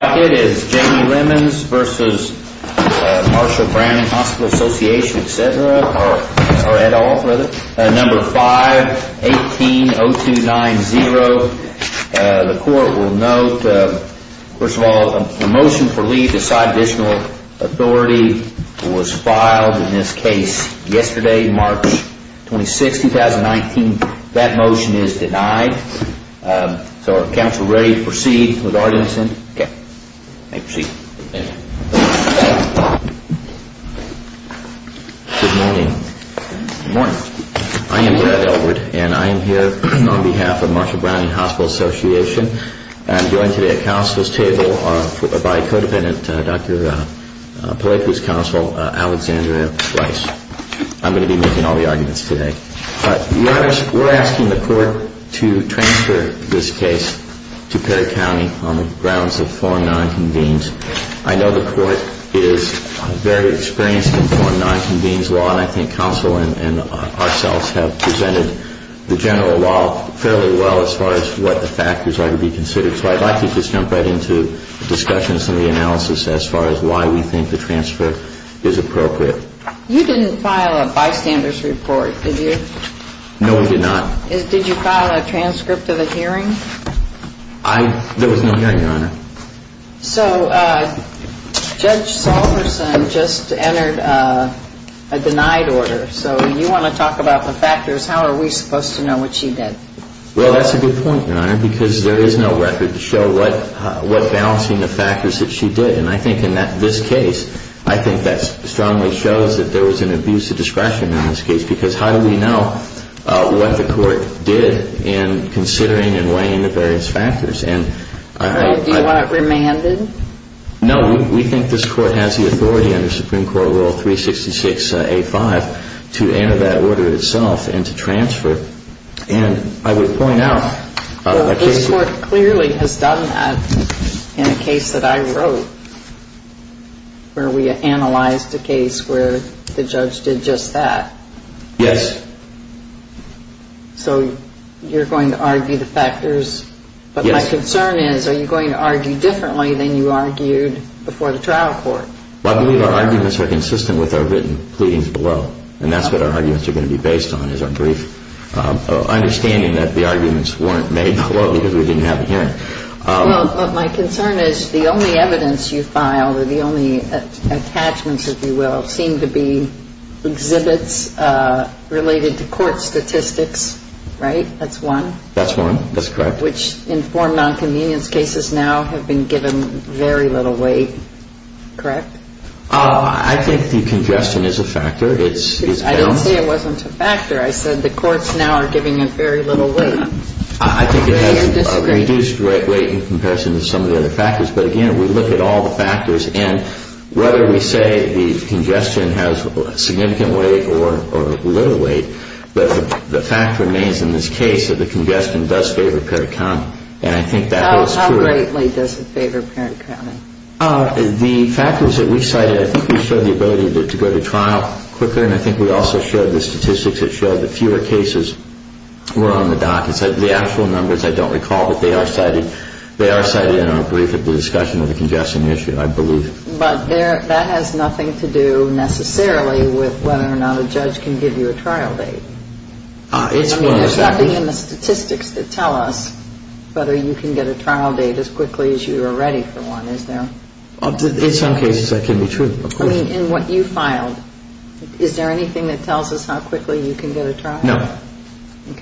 5-18-0290 Motion for leave aside additional authority was filed in this case yesterday, March 26, 2019. That motion is denied. So are council ready to proceed with arguments? Good morning. I am Brad Elwood and I am here on behalf of Marshall Browning Hospital Association. I am joined today at council's table by co-dependent Dr. Alexandria Rice. I am going to be making all the arguments today. We are asking the court to transfer this case to Perry County on the grounds of form 9 convenes. I know the court is very experienced in form 9 convenes law and I think council and ourselves have presented the general law fairly well as far as what the factors are to be considered. So I'd like to just jump right into discussions and the analysis as far as why we think the transfer is appropriate. You didn't file a bystander's report, did you? No, we did not. Did you file a transcript of the hearing? There was no hearing, Your Honor. So Judge Salverson just entered a denied order. So you want to talk about the factors. How are we supposed to know what she did? Well, that's a good point, Your Honor, because there is no record to show what balancing the factors that she did. And I think in this case, I think that strongly shows that there was an abuse of discretion in this case because how do we know what the court did in considering and weighing the various factors? Do you want it remanded? No, we think this court has the authority under Supreme Court Rule 366A5 to enter that order itself and to transfer. And I would point out that this court clearly has done that in a case that I wrote where we analyzed a case where the judge did just that. Yes. So you're going to argue the factors. Yes. But my concern is, are you going to argue differently than you argued before the trial court? Well, I believe our arguments are consistent with our written pleadings below. And that's what our arguments are going to be based on is our brief understanding that the arguments weren't made below because we didn't have a hearing. Well, my concern is the only evidence you filed or the only attachments, if you will, seem to be exhibits related to court statistics, right? That's one. That's one. That's correct. Which informed nonconvenience cases now have been given very little weight, correct? I think the congestion is a factor. I didn't say it wasn't a factor. I said the courts now are giving it very little weight. I think it has reduced weight in comparison to some of the other factors. But, again, we look at all the factors. And whether we say the congestion has significant weight or little weight, the fact remains in this case that the congestion does favor parent accounting. And I think that is true. How greatly does it favor parent accounting? The factors that we cited, I think we showed the ability to go to trial quicker. And I think we also showed the statistics that showed that fewer cases were on the dock. The actual numbers, I don't recall, but they are cited in our brief of the discussion of the congestion issue, I believe. But that has nothing to do necessarily with whether or not a judge can give you a trial date. I mean, there's nothing in the statistics that tell us whether you can get a trial date as quickly as you are ready for one, is there? In some cases, that can be true. I mean, in what you filed, is there anything that tells us how quickly you can get a trial? No.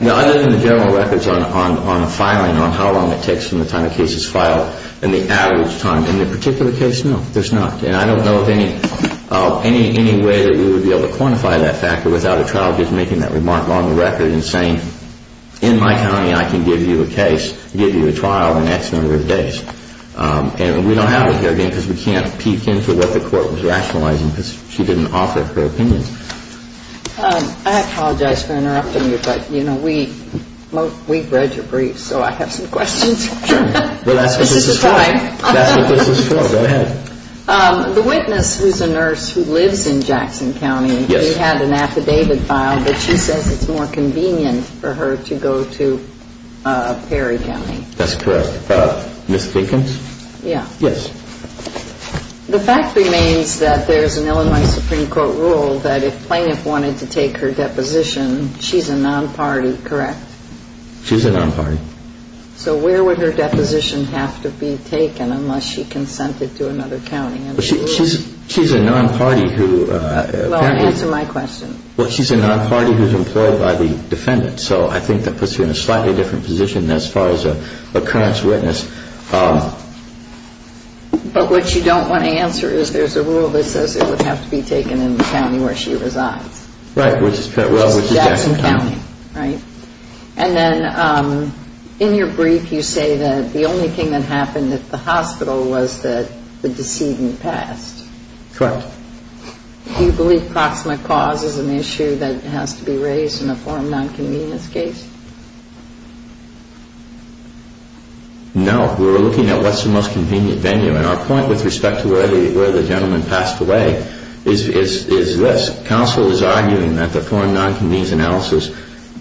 Other than the general records on filing, on how long it takes from the time a case is filed and the average time. In the particular case, no, there's not. And I don't know of any way that we would be able to quantify that factor without a trial judge making that remark on the record and saying, in my county, I can give you a case, give you a trial in X number of days. And we don't have it here, again, because we can't peek into what the court was rationalizing because she didn't offer her opinion. I apologize for interrupting you, but, you know, we've read your briefs, so I have some questions. Sure. Well, that's what this is for. This is the time. That's what this is for. Go ahead. The witness, who's a nurse who lives in Jackson County, Yes. We had an affidavit filed that she says it's more convenient for her to go to Perry County. That's correct. Ms. Dinkins? Yeah. Yes. The fact remains that there's an Illinois Supreme Court rule that if plaintiff wanted to take her deposition, she's a non-party, correct? She's a non-party. So where would her deposition have to be taken unless she consented to another county? She's a non-party who apparently, Well, answer my question. Well, she's a non-party who's employed by the defendant. So I think that puts her in a slightly different position as far as a current witness. But what you don't want to answer is there's a rule that says it would have to be taken in the county where she resides. Right. Which is Jackson County, right? And then in your brief, you say that the only thing that happened at the hospital was that the decedent passed. Correct. Do you believe proximate cause is an issue that has to be raised in a foreign non-convenience case? No. We're looking at what's the most convenient venue. And our point with respect to where the gentleman passed away is this. Counsel is arguing that the foreign non-convenience analysis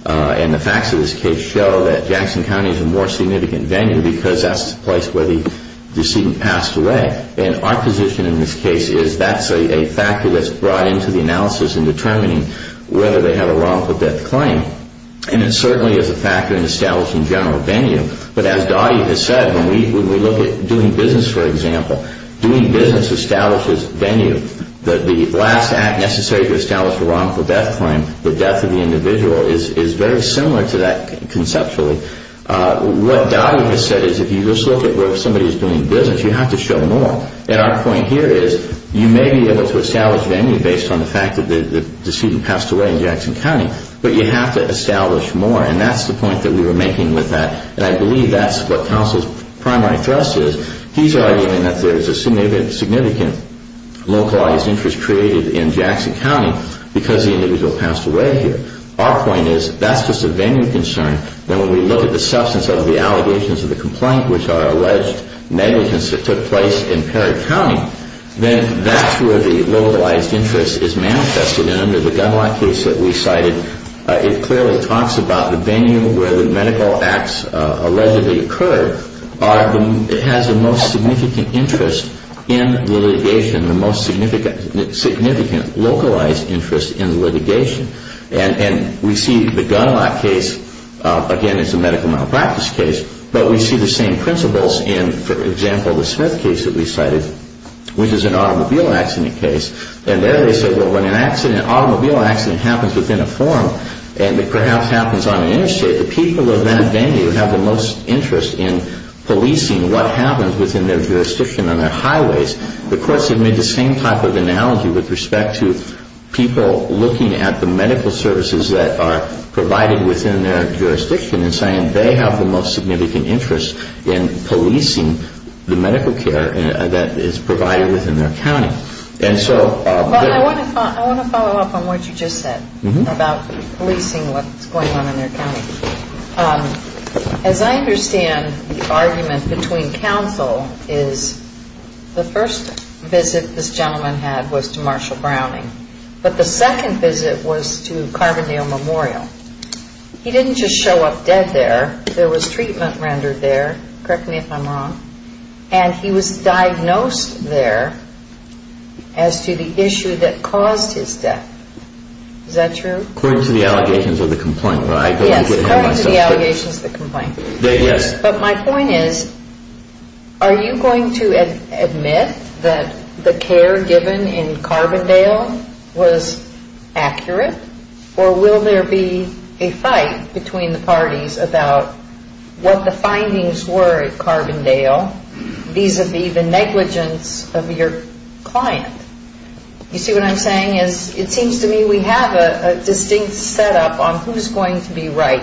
and the facts of this case show that Jackson County is a more significant venue because that's the place where the decedent passed away. And our position in this case is that's a factor that's brought into the analysis in determining whether they have a wrongful death claim. And it certainly is a factor in establishing general venue. But as Dottie has said, when we look at doing business, for example, doing business establishes venue. The last act necessary to establish a wrongful death claim, the death of the individual, is very similar to that conceptually. What Dottie has said is if you just look at where somebody is doing business, you have to show more. And our point here is you may be able to establish venue based on the fact that the decedent passed away in Jackson County. But you have to establish more. And that's the point that we were making with that. And I believe that's what counsel's primary thrust is. He's arguing that there's a significant localized interest created in Jackson County because the individual passed away here. Our point is that's just a venue concern. Then when we look at the substance of the allegations of the complaint, which are alleged negligence that took place in Perry County, then that's where the localized interest is manifested. And under the gun law case that we cited, it clearly talks about the venue where the medical acts allegedly occurred. It has the most significant interest in the litigation, the most significant localized interest in the litigation. And we see the gun law case, again, it's a medical malpractice case. But we see the same principles in, for example, the Smith case that we cited, which is an automobile accident case. And there they said, well, when an automobile accident happens within a forum and it perhaps happens on an interstate, the people of that venue have the most interest in policing what happens within their jurisdiction on their highways. The courts have made the same type of analogy with respect to people looking at the medical services that are provided within their jurisdiction and saying they have the most significant interest in policing the medical care that is provided within their county. And so they're... But I want to follow up on what you just said about policing what's going on in their county. As I understand the argument between counsel is the first visit this gentleman had was to Marshall Browning. But the second visit was to Carbondale Memorial. He didn't just show up dead there. There was treatment rendered there. Correct me if I'm wrong. And he was diagnosed there as to the issue that caused his death. Is that true? According to the allegations of the complainant. Yes, according to the allegations of the complainant. But my point is, are you going to admit that the care given in Carbondale was accurate? Or will there be a fight between the parties about what the findings were at Carbondale vis-à-vis the negligence of your client? You see what I'm saying? It seems to me we have a distinct setup on who's going to be right.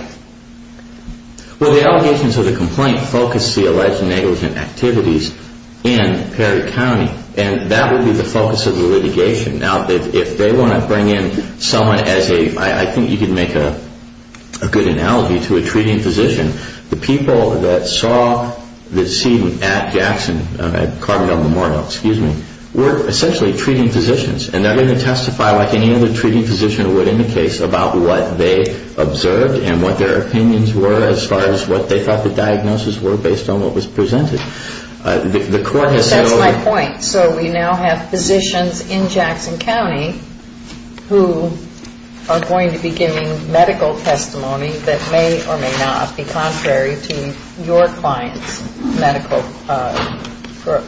Well, the allegations of the complaint focus the alleged negligent activities in Perry County. And that would be the focus of the litigation. Now, if they want to bring in someone as a... I think you could make a good analogy to a treating physician. The people that saw the scene at Carbondale Memorial were essentially treating physicians. And they're going to testify like any other treating physician would in the case about what they observed and what their opinions were as far as what they thought the diagnosis were based on what was presented. That's my point. So we now have physicians in Jackson County who are going to be giving medical testimony that may or may not be contrary to your client's medical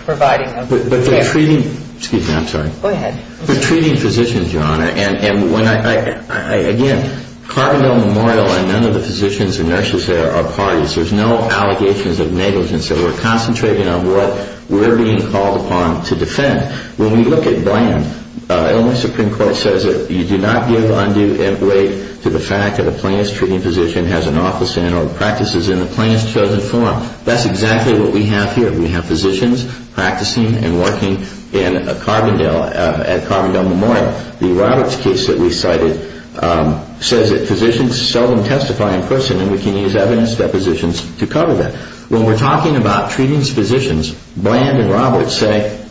providing of care. But they're treating... Excuse me, I'm sorry. Go ahead. They're treating physicians, Your Honor. And when I... Again, Carbondale Memorial and none of the physicians and nurses there are parties. There's no allegations of negligence. So we're concentrating on what we're being called upon to defend. When we look at Bland, Illinois Supreme Court says that you do not give undue weight to the fact that a plaintiff's treating physician has an office in or practices in the plaintiff's chosen forum. That's exactly what we have here. We have physicians practicing and working in Carbondale at Carbondale Memorial. The Roberts case that we cited says that physicians seldom testify in person and we can use evidence depositions to cover that. When we're talking about treating physicians, Bland and Roberts say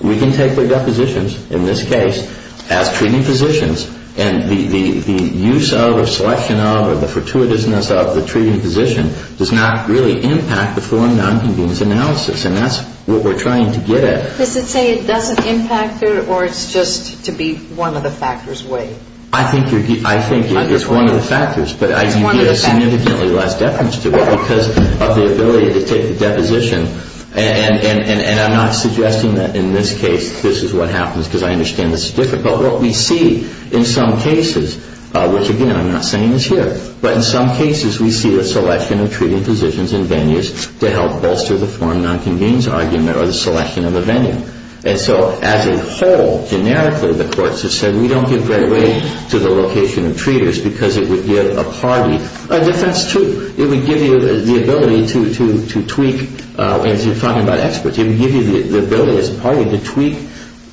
we can take their depositions in this case as treating physicians and the use of or selection of or the fortuitousness of the treating physician does not really impact the foreign nonconvenience analysis. And that's what we're trying to get at. Does it say it doesn't impact it or it's just to be one of the factors weighed? I think it's one of the factors. But I think there's significantly less deference to it because of the ability to take the deposition. And I'm not suggesting that in this case this is what happens because I understand this is difficult. But what we see in some cases, which, again, I'm not saying is here, but in some cases we see a selection of treating physicians in venues to help bolster the foreign nonconvenience argument or the selection of a venue. And so as a whole, generically, the courts have said we don't give great weight to the location of treaters because it would give a party a defense too. It would give you the ability to tweak, as you're talking about experts, it would give you the ability as a party to tweak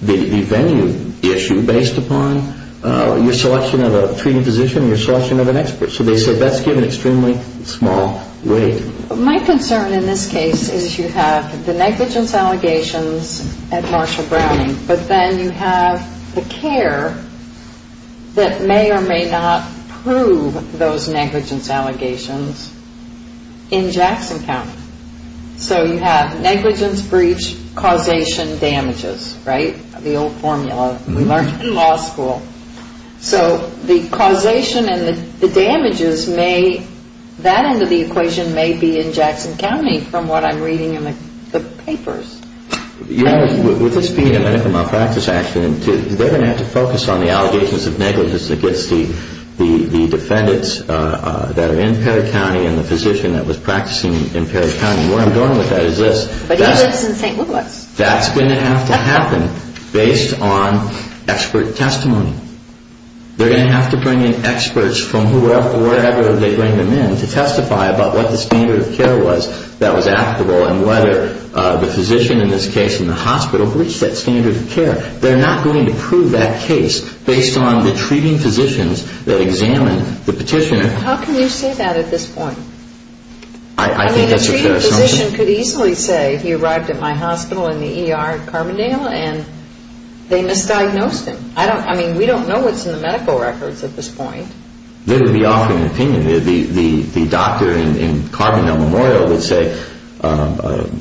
the venue issue based upon your selection of a treating physician and your selection of an expert. So they said that's given extremely small weight. My concern in this case is you have the negligence allegations at Marshall Browning, but then you have the care that may or may not prove those negligence allegations in Jackson County. So you have negligence, breach, causation, damages, right? The old formula we learned in law school. So the causation and the damages may, that end of the equation may be in Jackson County from what I'm reading in the papers. You know, with this being a medical malpractice accident, they're going to have to focus on the allegations of negligence against the defendants that are in Perry County and the physician that was practicing in Perry County. And where I'm going with that is this. But he lives in St. Louis. That's going to have to happen based on expert testimony. They're going to have to bring in experts from wherever they bring them in to testify about what the standard of care was that was applicable and whether the physician in this case in the hospital reached that standard of care. They're not going to prove that case based on the treating physicians that examined the petitioner. How can you say that at this point? I think that's a fair assumption. I mean, a treating physician could easily say he arrived at my hospital in the ER in Carbondale and they misdiagnosed him. I mean, we don't know what's in the medical records at this point. They would be offering an opinion. The doctor in Carbondale Memorial would say,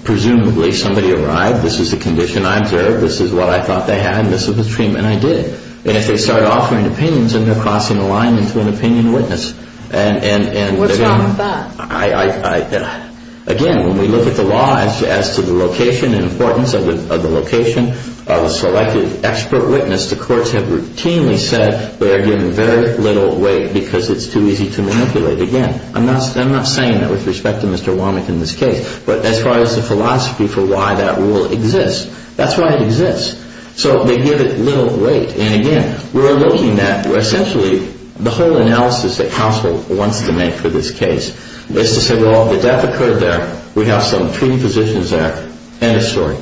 presumably somebody arrived, this is the condition I observed, this is what I thought they had, and this is the treatment I did. And if they start offering opinions, then they're crossing the line into an opinion witness. What's wrong with that? Again, when we look at the law as to the location and importance of the location of a selected expert witness, the courts have routinely said they're giving very little weight because it's too easy to manipulate. Again, I'm not saying that with respect to Mr. Womack in this case, but as far as the philosophy for why that rule exists, that's why it exists. So they give it little weight. And again, we're looking at essentially the whole analysis that counsel wants to make for this case, is to say, well, the death occurred there, we have some treating physicians there, and a story.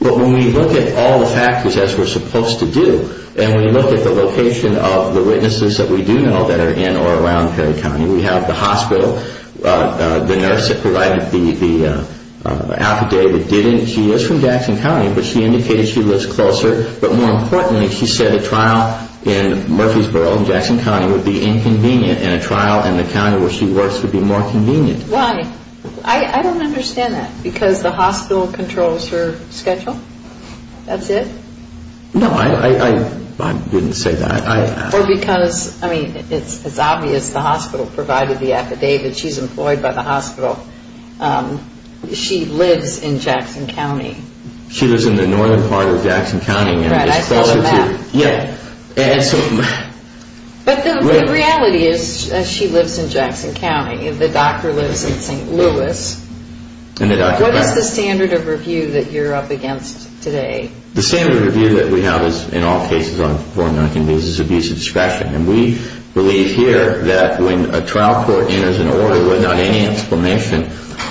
But when we look at all the factors as we're supposed to do, and we look at the location of the witnesses that we do know that are in or around Perry County, we have the hospital, the nurse that provided the affidavit, she didn't. She is from Jackson County, but she indicated she lives closer. But more importantly, she said a trial in Murfreesboro, Jackson County, would be inconvenient, and a trial in the county where she works would be more convenient. Why? I don't understand that. Because the hospital controls her schedule? That's it? No, I didn't say that. Or because, I mean, it's obvious the hospital provided the affidavit. She's employed by the hospital. She lives in Jackson County. She lives in the northern part of Jackson County. Right, I saw the map. Yeah. But the reality is she lives in Jackson County. The doctor lives in St. Louis. What is the standard of review that you're up against today? The standard of review that we have is, in all cases, is abuse of discretion. And we believe here that when a trial court enters an order without any explanation,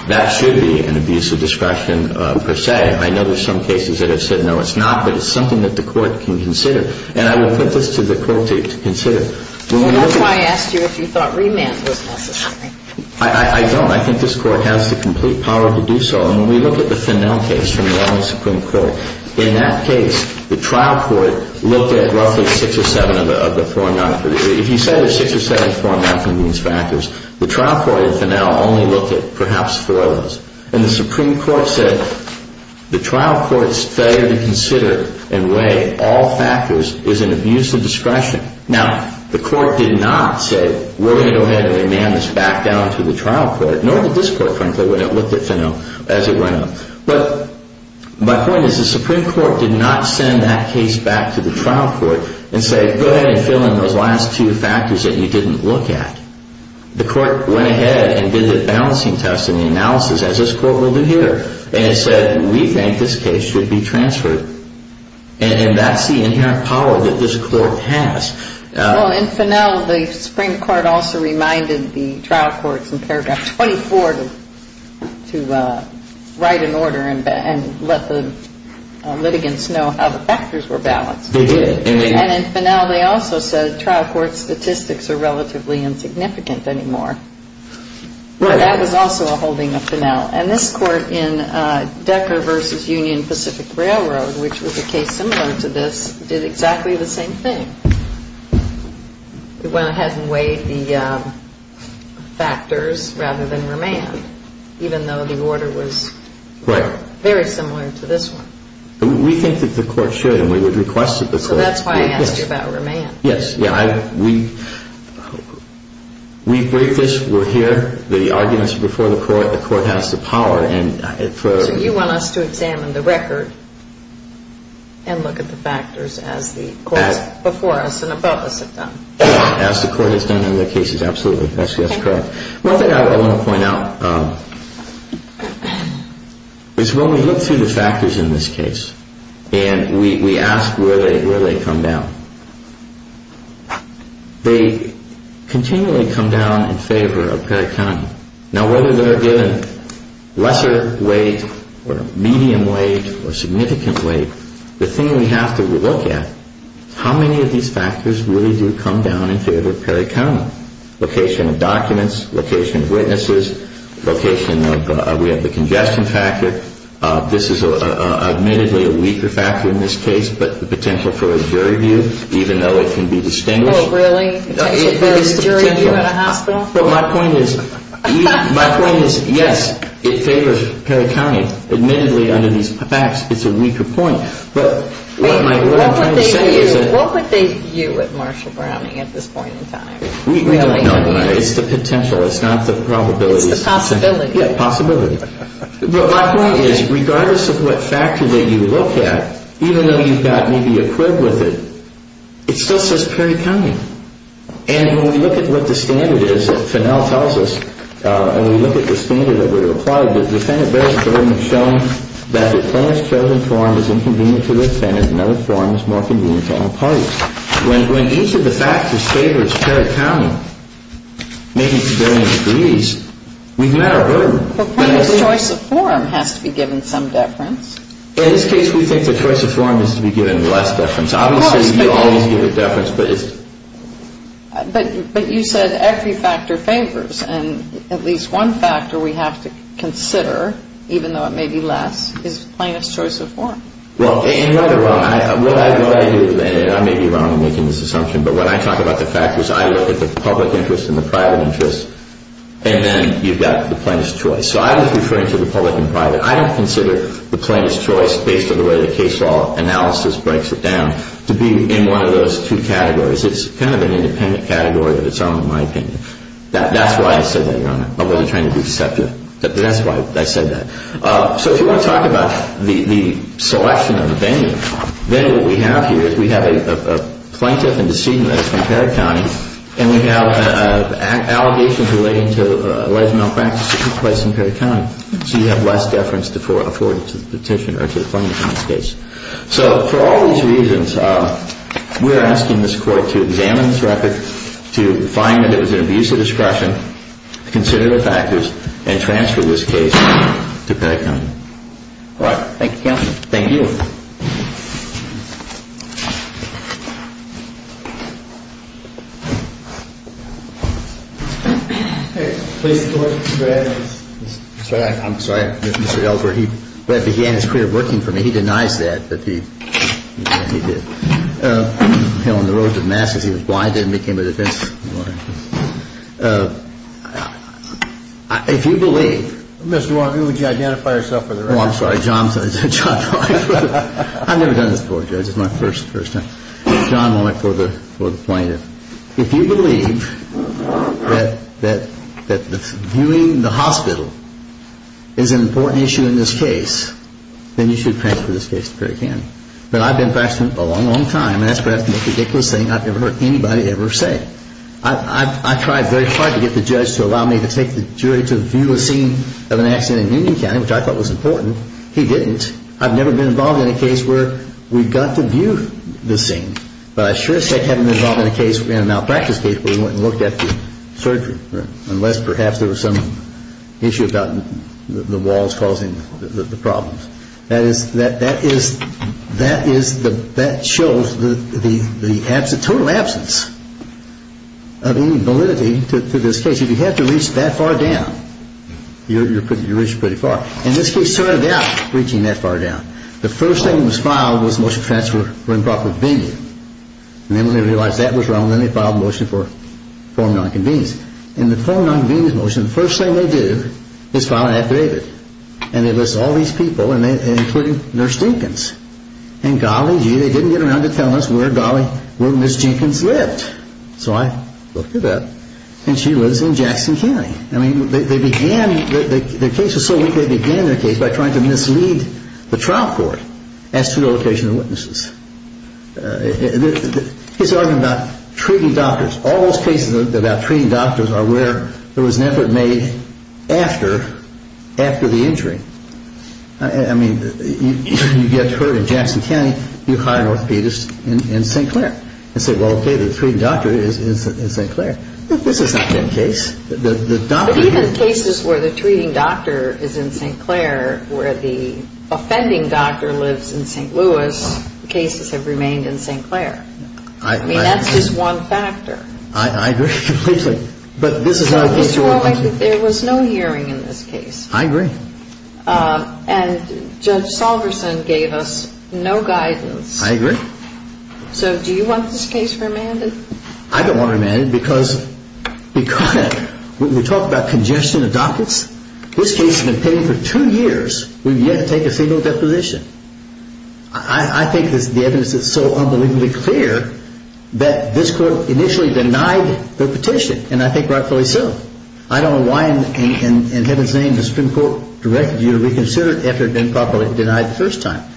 that should be an abuse of discretion per se. I know there are some cases that have said, no, it's not, but it's something that the court can consider. And I will put this to the court to consider. That's why I asked you if you thought remand was necessary. I don't. I think this court has the complete power to do so. And when we look at the Finnell case from the Army Supreme Court, in that case, the trial court looked at roughly six or seven of the four nonconvenience factors. If you say there's six or seven of the four nonconvenience factors, the trial court in Finnell only looked at perhaps four of those. And the Supreme Court said the trial court's failure to consider and weigh all factors is an abuse of discretion. Now, the court did not say we're going to go ahead and remand this back down to the trial court, nor did this court, frankly, when it looked at Finnell as it went on. But my point is the Supreme Court did not send that case back to the trial court and say, go ahead and fill in those last two factors that you didn't look at. The court went ahead and did the balancing test and the analysis, as this court will do here, and said we think this case should be transferred. And that's the inherent power that this court has. Well, in Finnell, the Supreme Court also reminded the trial courts in paragraph 24 to write an order and let the litigants know how the factors were balanced. They did. And in Finnell, they also said trial court statistics are relatively insignificant anymore. But that was also a holding of Finnell. And this court in Decker v. Union Pacific Railroad, which was a case similar to this, did exactly the same thing. It went ahead and weighed the factors rather than remand, even though the order was very similar to this one. We think that the court should, and we would request that the court break this. So that's why I asked you about remand. Yes. We break this. We're here. The arguments are before the court. The court has the power. So you want us to examine the record and look at the factors as the courts before us and above us have done. As the court has done in other cases, absolutely. That's correct. One thing I want to point out is when we look through the factors in this case and we ask where they come down, they continually come down in favor of Perry County. Now, whether they're given lesser weight or medium weight or significant weight, the thing we have to look at is how many of these factors really do come down in favor of Perry County. Location of documents, location of witnesses, location of, we have the congestion factor. This is admittedly a weaker factor in this case, but the potential for a jury view, even though it can be distinguished. Oh, really? Potential for a jury view at a hospital? Well, my point is, yes, it favors Perry County. Admittedly, under these facts, it's a weaker point, but what I'm trying to say is that. What would they view at Marshall Browning at this point in time? We don't know. It's the potential. It's not the probability. It's the possibility. Yeah, possibility. But my point is, regardless of what factor that you look at, even though you've got maybe a quid with it, it still says Perry County. And when we look at what the standard is that Fennell tells us, and we look at the standard that we've applied, the defendant bears the burden of showing that the plaintiff's chosen form is inconvenient to the defendant and the other form is more convenient to all parties. When each of the factors favors Perry County, maybe to varying degrees, we've met our burden. Well, the plaintiff's choice of form has to be given some deference. In this case, we think the choice of form is to be given less deference. Obviously, you always give it deference. But you said every factor favors. And at least one factor we have to consider, even though it may be less, is the plaintiff's choice of form. Well, and right or wrong, what I do, and I may be wrong in making this assumption, but when I talk about the factors, I look at the public interest and the private interest, and then you've got the plaintiff's choice. So I was referring to the public and private. I don't consider the plaintiff's choice, based on the way the case law analysis breaks it down, to be in one of those two categories. It's kind of an independent category of its own, in my opinion. That's why I said that, Your Honor. I wasn't trying to be deceptive. That's why I said that. So if you want to talk about the selection of the venue, then what we have here is we have a plaintiff and decedent that's from Perry County, and we have allegations relating to alleged malpractice in Perry County. So you have less deference afforded to the petitioner or to the plaintiff in this case. So for all these reasons, we're asking this Court to examine this record, to find that it was an abuse of discretion, consider the factors, and transfer this case to Perry County. All right. Thank you, Counsel. Thank you. I'm sorry, Mr. Elbert. He began his career working for me. He denies that. But he did. You know, in the road to the masses, he was blinded and became a defense lawyer. If you believe. Mr. Warnky, would you identify yourself for the record? Oh, I'm sorry. John Warnky. I've never done this before, Judge. It's my first time. John Warnky for the plaintiff. If you believe that viewing the hospital is an important issue in this case, then you should transfer this case to Perry County. But I've been practicing it a long, long time, and that's perhaps the most ridiculous thing I've ever heard anybody ever say. I tried very hard to get the judge to allow me to take the jury to view a scene of an accident in Union County, which I thought was important. He didn't. I've never been involved in a case where we got to view the scene. But I sure as heck haven't been involved in a case, in a malpractice case, where we went and looked at the surgery, unless perhaps there was some issue about the walls causing the problems. That is, that shows the total absence of any validity to this case. If you had to reach that far down, you reached pretty far. In this case, it started out reaching that far down. The first thing that was filed was motion transfer for improper viewing. And then when they realized that was wrong, then they filed a motion for form of nonconvenience. In the form of nonconvenience motion, the first thing they do is file an ad gravid. And they list all these people, including Nurse Jenkins. And golly gee, they didn't get around to telling us where Miss Jenkins lived. So I looked it up, and she lives in Jackson County. Their case was so weak, they began their case by trying to mislead the trial court as to the location of the witnesses. He's talking about treating doctors. All those cases about treating doctors are where there was an effort made after the injury. I mean, you get hurt in Jackson County, you hire an orthopedist in St. Clair. And say, well, okay, the treating doctor is in St. Clair. This has not been the case. But even cases where the treating doctor is in St. Clair, where the offending doctor lives in St. Louis, the cases have remained in St. Clair. I mean, that's just one factor. I agree completely. But this is not a case where I want to. There was no hearing in this case. I agree. And Judge Salverson gave us no guidance. I agree. So do you want this case remanded? I don't want it remanded because we talk about congestion of documents. This case has been pending for two years. We've yet to take a single deposition. I think the evidence is so unbelievably clear that this court initially denied the petition, and I think rightfully so. I don't know why in heaven's name the Supreme Court directed you to reconsider it after it had been properly denied the first time.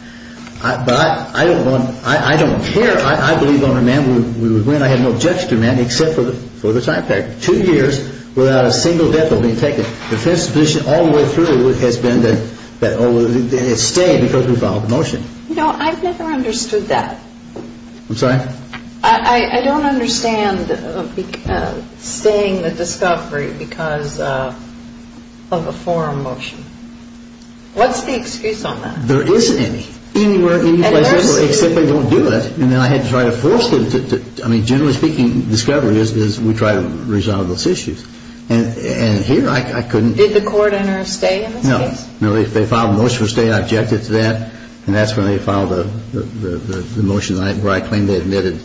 But I don't care. I believe on remand we would win. I have no objection to remand except for the time period. Two years without a single death being taken. The defense position all the way through has been that it stayed because we filed the motion. No, I've never understood that. I'm sorry? I don't understand staying the discovery because of a forum motion. What's the excuse on that? There isn't any. Anywhere, anyplace, except they don't do it. And then I had to try to force them to, I mean, generally speaking, discovery is we try to resolve those issues. And here I couldn't. Did the court enter a stay in this case? No. If they filed a motion to stay, I objected to that, and that's when they filed the motion where I claimed they admitted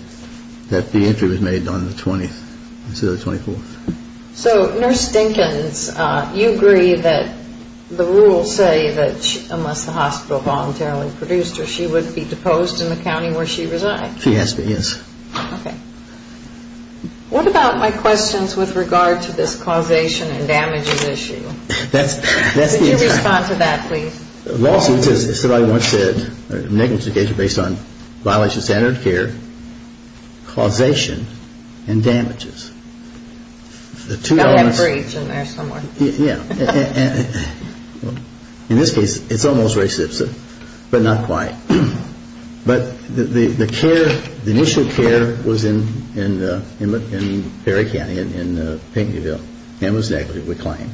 that the entry was made on the 20th. Instead of the 24th. So, Nurse Dinkins, you agree that the rules say that unless the hospital voluntarily produced her, she would be deposed in the county where she resides? She has to be, yes. Okay. What about my questions with regard to this causation and damages issue? That's the issue. Could you respond to that, please? The lawsuit says somebody wants a negligence case based on violation of standard of care, causation, and damages. I'll have a brief in there somewhere. Yeah. In this case, it's almost reciprocity, but not quite. But the care, the initial care was in Perry County, in Painted Deerville. Him was negligent, we claim.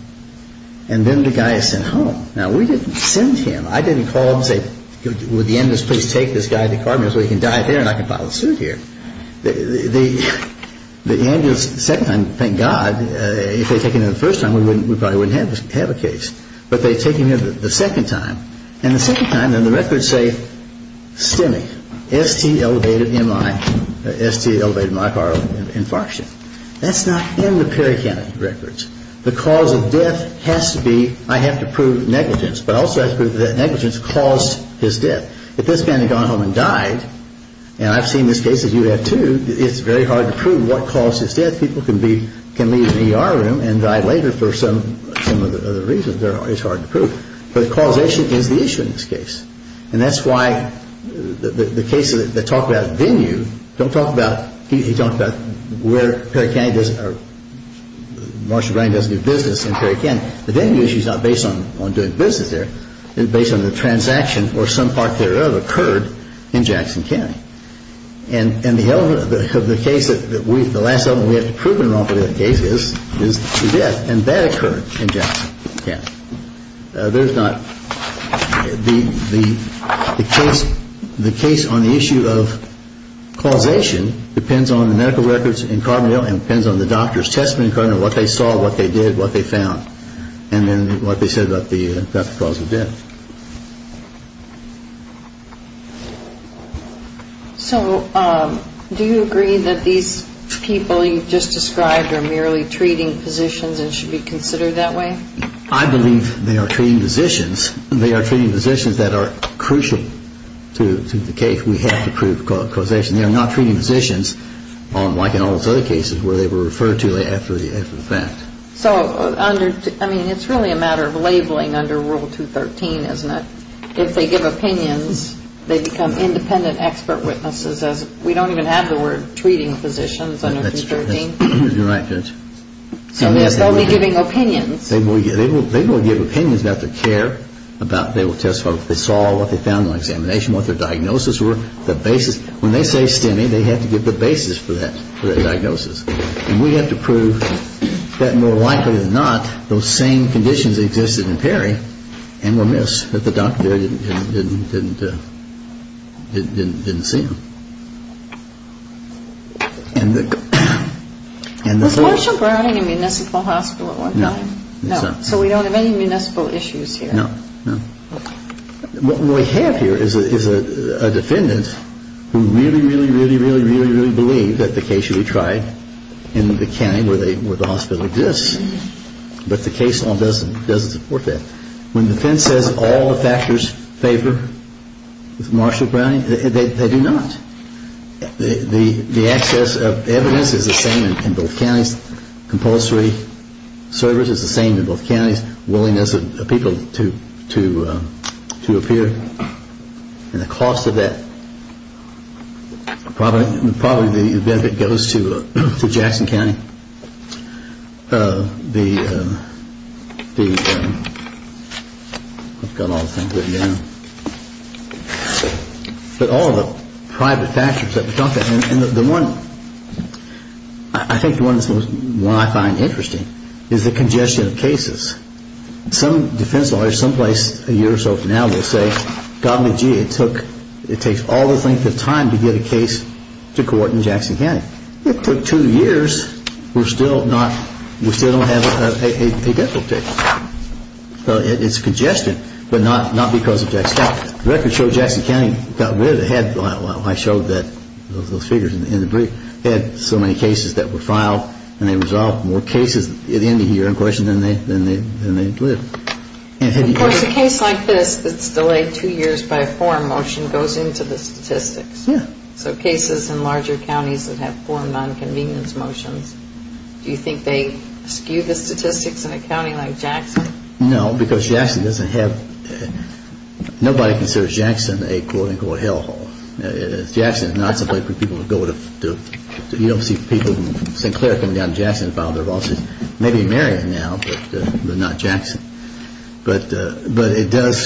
And then the guy is sent home. Now, we didn't send him. I didn't call and say, would the ambulance please take this guy to Cardinal so he can die there and I can file a suit here. The ambulance, the second time, thank God, if they had taken him the first time, we probably wouldn't have a case. But they take him here the second time. And the second time, and the records say STEMI, S-T-E-M-I, S-T-E-M-I-R-O, infarction. That's not in the Perry County records. The cause of death has to be, I have to prove negligence. But I also have to prove that negligence caused his death. If this man had gone home and died, and I've seen this case, as you have too, it's very hard to prove what caused his death. People can leave the ER room and die later for some of the reasons. It's hard to prove. But causation is the issue in this case. And that's why the cases that talk about venue, don't talk about, he talked about where Perry County does, Marshall Brand does new business in Perry County. The venue issue is not based on doing business there. It's based on the transaction, or some part thereof, occurred in Jackson County. And the element of the case that we, the last element we have to prove in the wrongful death case is his death. And that occurred in Jackson County. There's not, the case on the issue of causation depends on the medical records in Carbondale and depends on the doctor's testimony according to what they saw, what they did, what they found, and then what they said about the cause of death. So do you agree that these people you've just described are merely treating physicians and should be considered that way? I believe they are treating physicians. They are treating physicians that are crucial to the case. We have to prove causation. They are not treating physicians like in all those other cases where they were referred to after the fact. So under, I mean, it's really a matter of labeling under Rule 213, isn't it? If they give opinions, they become independent expert witnesses. We don't even have the word treating physicians under 213. That's true. You're right. So they'll be giving opinions. They will give opinions about their care, about their test, what they saw, what they found on examination, what their diagnosis were, the basis. When they say STEMI, they have to give the basis for that diagnosis. And we have to prove that more likely than not those same conditions existed in Perry and were missed, that the doctor didn't see them. Was Marshall Browning a municipal hospital at one time? No. So we don't have any municipal issues here. No. What we have here is a defendant who really, really, really, really, really, really believed that the case should be tried in the county where the hospital exists. But the case law doesn't support that. When the defense says all the factors favor Marshall Browning, they do not. The access of evidence is the same in both counties. Compulsory service is the same in both counties. Willingness of people to appear and the cost of that. Probably the benefit goes to Jackson County. But all the private factors that we talked about. I think the one I find interesting is the congestion of cases. Some defense lawyers some place a year or so from now will say, golly gee, it takes all the length of time to get a case to court in Jackson County. It took two years, we still don't have a definite case. It's congestion, but not because of Jackson County. The records show Jackson County got rid of it. I showed those figures in the brief. They had so many cases that were filed and they resolved more cases at the end of the year in question than they did. Of course a case like this that's delayed two years by a form motion goes into the statistics. Yeah. So cases in larger counties that have formed on convenience motions, No, because Jackson doesn't have, nobody considers Jackson a quote unquote hell hole. Jackson is not a place for people to go to. You don't see people from St. Clair coming down to Jackson to file their lawsuits. Maybe Marion now, but not Jackson. But it does,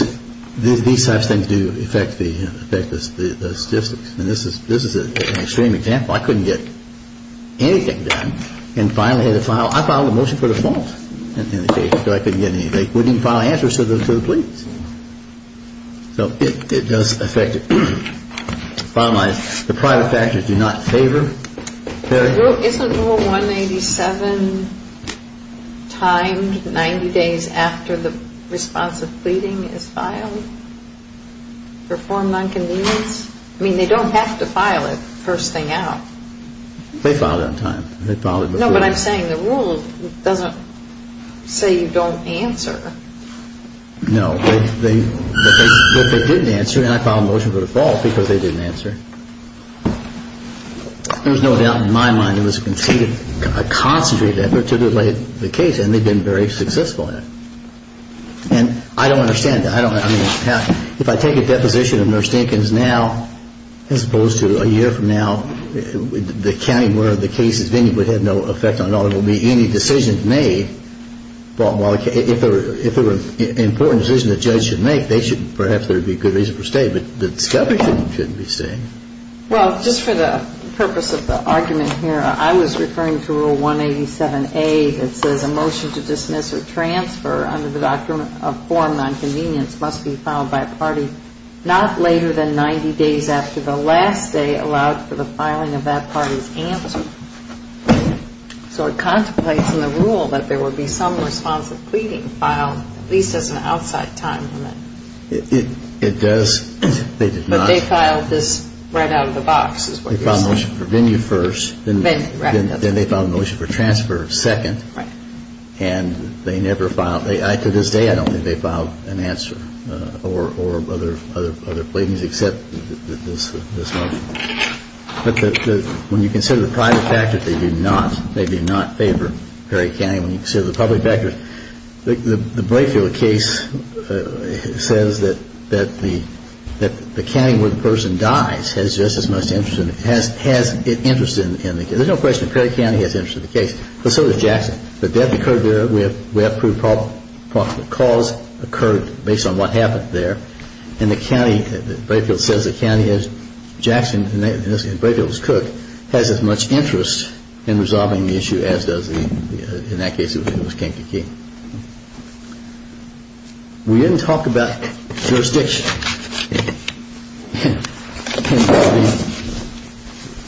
these types of things do affect the statistics. And this is an extreme example. I couldn't get anything done and finally had to file, I filed a motion for default. So I couldn't get anything. They wouldn't even file answers to the pleads. So it does affect it. The private factors do not favor. Isn't rule 187 timed 90 days after the response of pleading is filed? Performed on convenience? I mean they don't have to file it first thing out. They file it on time. No, but I'm saying the rule doesn't say you don't answer. No, but they didn't answer and I filed a motion for default because they didn't answer. There's no doubt in my mind it was a conceded, a concentrated effort to delay the case and they've been very successful at it. And I don't understand that. If I take a deposition of Nurse Dinkins now as opposed to a year from now, the county, one of the cases, if any, would have no effect on it. It would be any decisions made, but if it were an important decision the judge should make, perhaps there would be a good reason for staying. But the discovery shouldn't be staying. Well, just for the purpose of the argument here, I was referring to rule 187A that says a motion to dismiss or transfer under the form of nonconvenience must be filed by a party not later than 90 days after the last day allowed for the filing of that party's answer. So it contemplates in the rule that there would be some responsive pleading filed, at least as an outside time limit. It does. But they filed this right out of the box is what you're saying. They filed a motion for venue first. Venue, right. Then they filed a motion for transfer second. Right. And they never filed, to this day I don't think they've filed an answer or other pleadings except this motion. But when you consider the private factors, they do not favor Perry County. When you consider the public factors, the Brayfield case says that the county where the person dies has just as much interest, has interest in the case. There's no question that Perry County has interest in the case. So does Jackson. The death occurred there. We have proof of the cause occurred based on what happened there. And the county, Brayfield says the county has Jackson, and Brayfield is Cook, has as much interest in resolving the issue as does the, in that case it was Kankakee. We didn't talk about jurisdiction.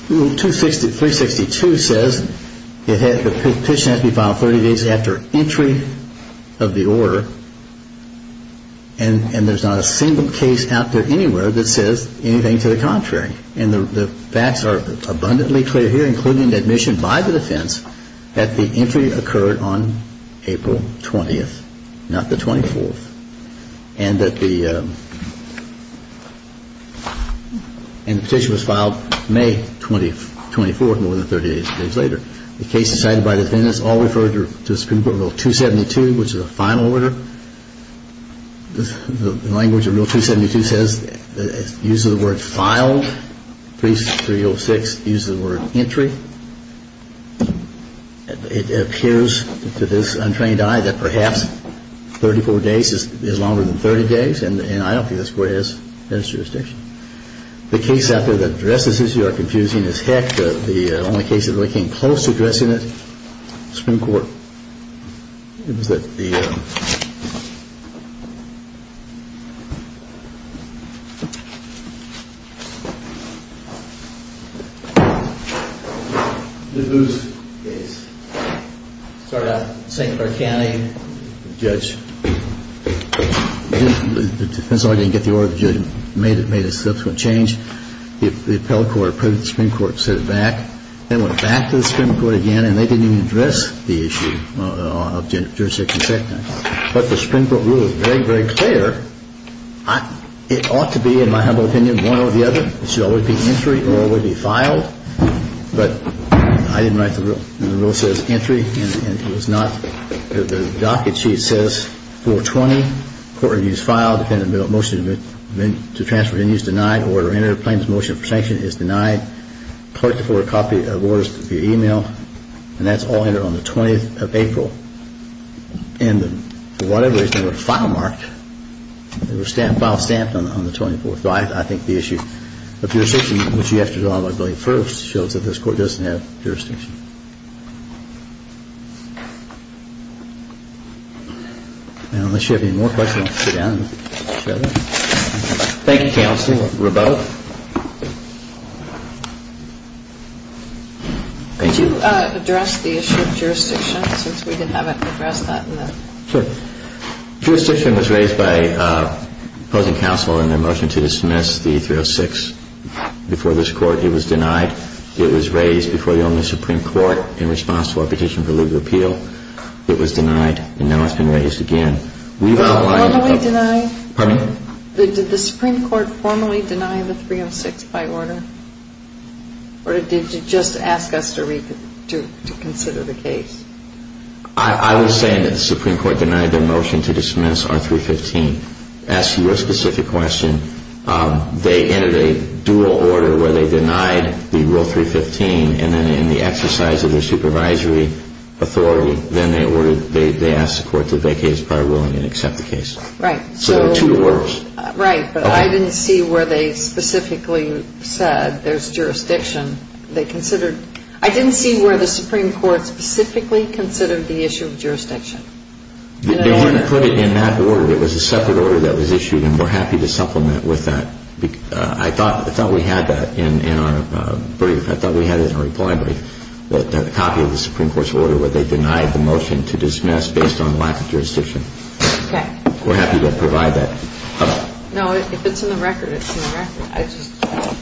Rule 362 says the petition has to be filed 30 days after entry of the order, and there's not a single case out there anywhere that says anything to the contrary. And the facts are abundantly clear here, including admission by the defense, that the entry occurred on April 20th, not the 24th. And that the, and the petition was filed May 24th, more than 30 days later. The cases cited by the defendants all refer to Supreme Court Rule 272, which is a final order. The language of Rule 272 says, uses the word filed, 306 uses the word entry. It appears to this untrained eye that perhaps 34 days is longer than 30 days, and I don't think this court has jurisdiction. The case out there that addresses this issue are confusing as heck. The only case that really came close to addressing it, Supreme Court, was that the, the Boos case. Started out in St. Clair County. The judge, the defense lawyer didn't get the order. The judge made a subsequent change. The appellate court approached the Supreme Court and set it back. Then went back to the Supreme Court again, and they didn't even address the issue of jurisdiction. But the Supreme Court rule is very, very clear. It ought to be, in my humble opinion, one or the other. It should always be entry or it would be filed. But I didn't write the rule. The rule says entry, and it was not. The docket sheet says 420, court reviews file, defendant motion to transfer venues denied, file order entered, plaintiff motion for sanction is denied, court to forward a copy of orders via e-mail, and that's all entered on the 20th of April. And for whatever reason, there was a file mark. There was a file stamped on the 24th. So I think the issue of jurisdiction, which you have to draw on by going first, shows that this court doesn't have jurisdiction. And unless you have any more questions, I'll sit down and share them. Thank you, counsel. We're both. Thank you. Could you address the issue of jurisdiction, since we didn't have it addressed that night? Sure. Jurisdiction was raised by opposing counsel in their motion to dismiss the 306. Before this court, it was denied. It was raised before the only Supreme Court in response to our petition for legal appeal. It was denied, and now it's been raised again. Did the Supreme Court formally deny the 306 by order, or did you just ask us to consider the case? I was saying that the Supreme Court denied their motion to dismiss our 315. As to your specific question, they entered a dual order where they denied the Rule 315, and then in the exercise of their supervisory authority, they asked the court to vacate its prior ruling and accept the case. Right. So there are two orders. Right, but I didn't see where they specifically said there's jurisdiction. I didn't see where the Supreme Court specifically considered the issue of jurisdiction. They didn't put it in that order. It was a separate order that was issued, and we're happy to supplement with that. I thought we had that in our brief. I thought we had it in our reply brief, the copy of the Supreme Court's order where they denied the motion to dismiss based on lack of jurisdiction. Okay. We're happy to provide that. No, if it's in the record, it's in the record.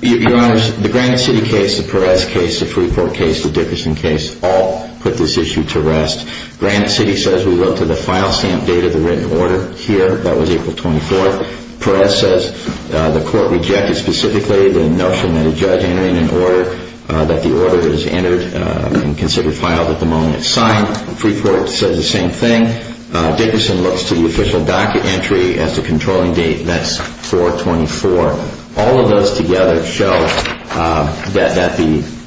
Your Honors, the Granite City case, the Perez case, the Freeport case, the Dickerson case all put this issue to rest. Granite City says we go to the file stamp date of the written order here. That was April 24th. Perez says the court rejected specifically the notion that a judge entering an order that the order is entered and considered filed at the moment it's signed. Freeport says the same thing. Dickerson looks to the official docket entry as the controlling date. That's 4-24. All of those together show that the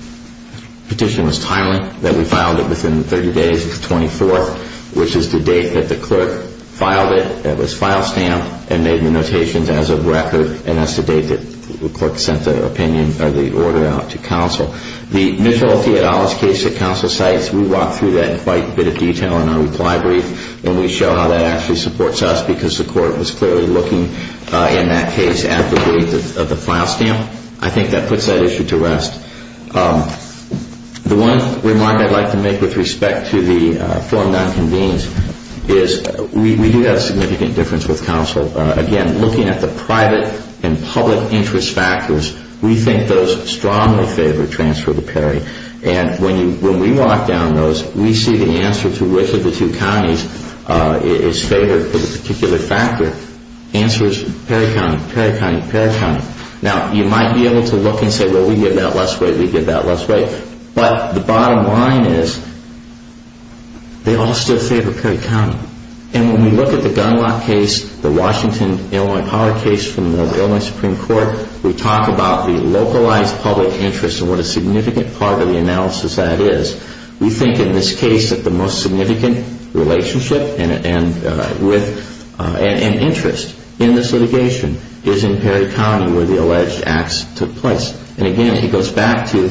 petition was timely, that we filed it within 30 days. It's the 24th, which is the date that the clerk filed it. It was file stamped and made the notations as of record, and that's the date that the clerk sent the opinion or the order out to counsel. The Mitchell v. Adolis case that counsel cites, we walk through that in quite a bit of detail in our reply brief, and we show how that actually supports us because the court was clearly looking in that case at the date of the file stamp. I think that puts that issue to rest. The one remark I'd like to make with respect to the form that convenes is we do have a significant difference with counsel. Again, looking at the private and public interest factors, we think those strongly favor transfer to Perry. And when we walk down those, we see the answer to which of the two counties is favored for the particular factor. The answer is Perry County, Perry County, Perry County. Now, you might be able to look and say, well, we give that less weight, we give that less weight. But the bottom line is they all still favor Perry County. And when we look at the Gunlock case, the Washington Illinois Power case from the Illinois Supreme Court, we talk about the localized public interest and what a significant part of the analysis that is. We think in this case that the most significant relationship and interest in this litigation is in Perry County where the alleged acts took place. And again, he goes back to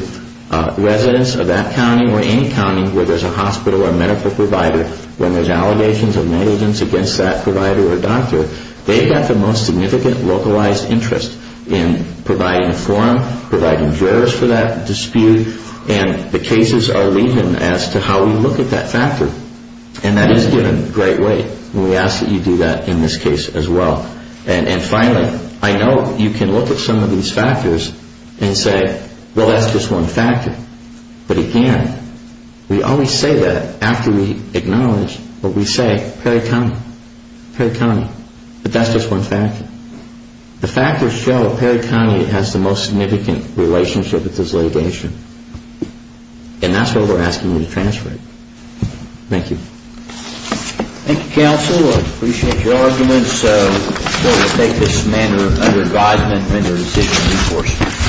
residents of that county or any county where there's a hospital or medical provider when there's allegations of negligence against that provider or doctor, they've got the most significant localized interest in providing a forum, providing jurors for that dispute, and the cases are leading as to how we look at that factor. And that is given great weight. And we ask that you do that in this case as well. And finally, I know you can look at some of these factors and say, well, that's just one factor. But again, we always say that after we acknowledge what we say, Perry County. Perry County. But that's just one factor. The factors show that Perry County has the most significant relationship with this litigation. And that's why we're asking you to transfer it. Thank you. Thank you, Counsel. I appreciate your arguments. So we'll take this matter under advisement under decision of enforcement.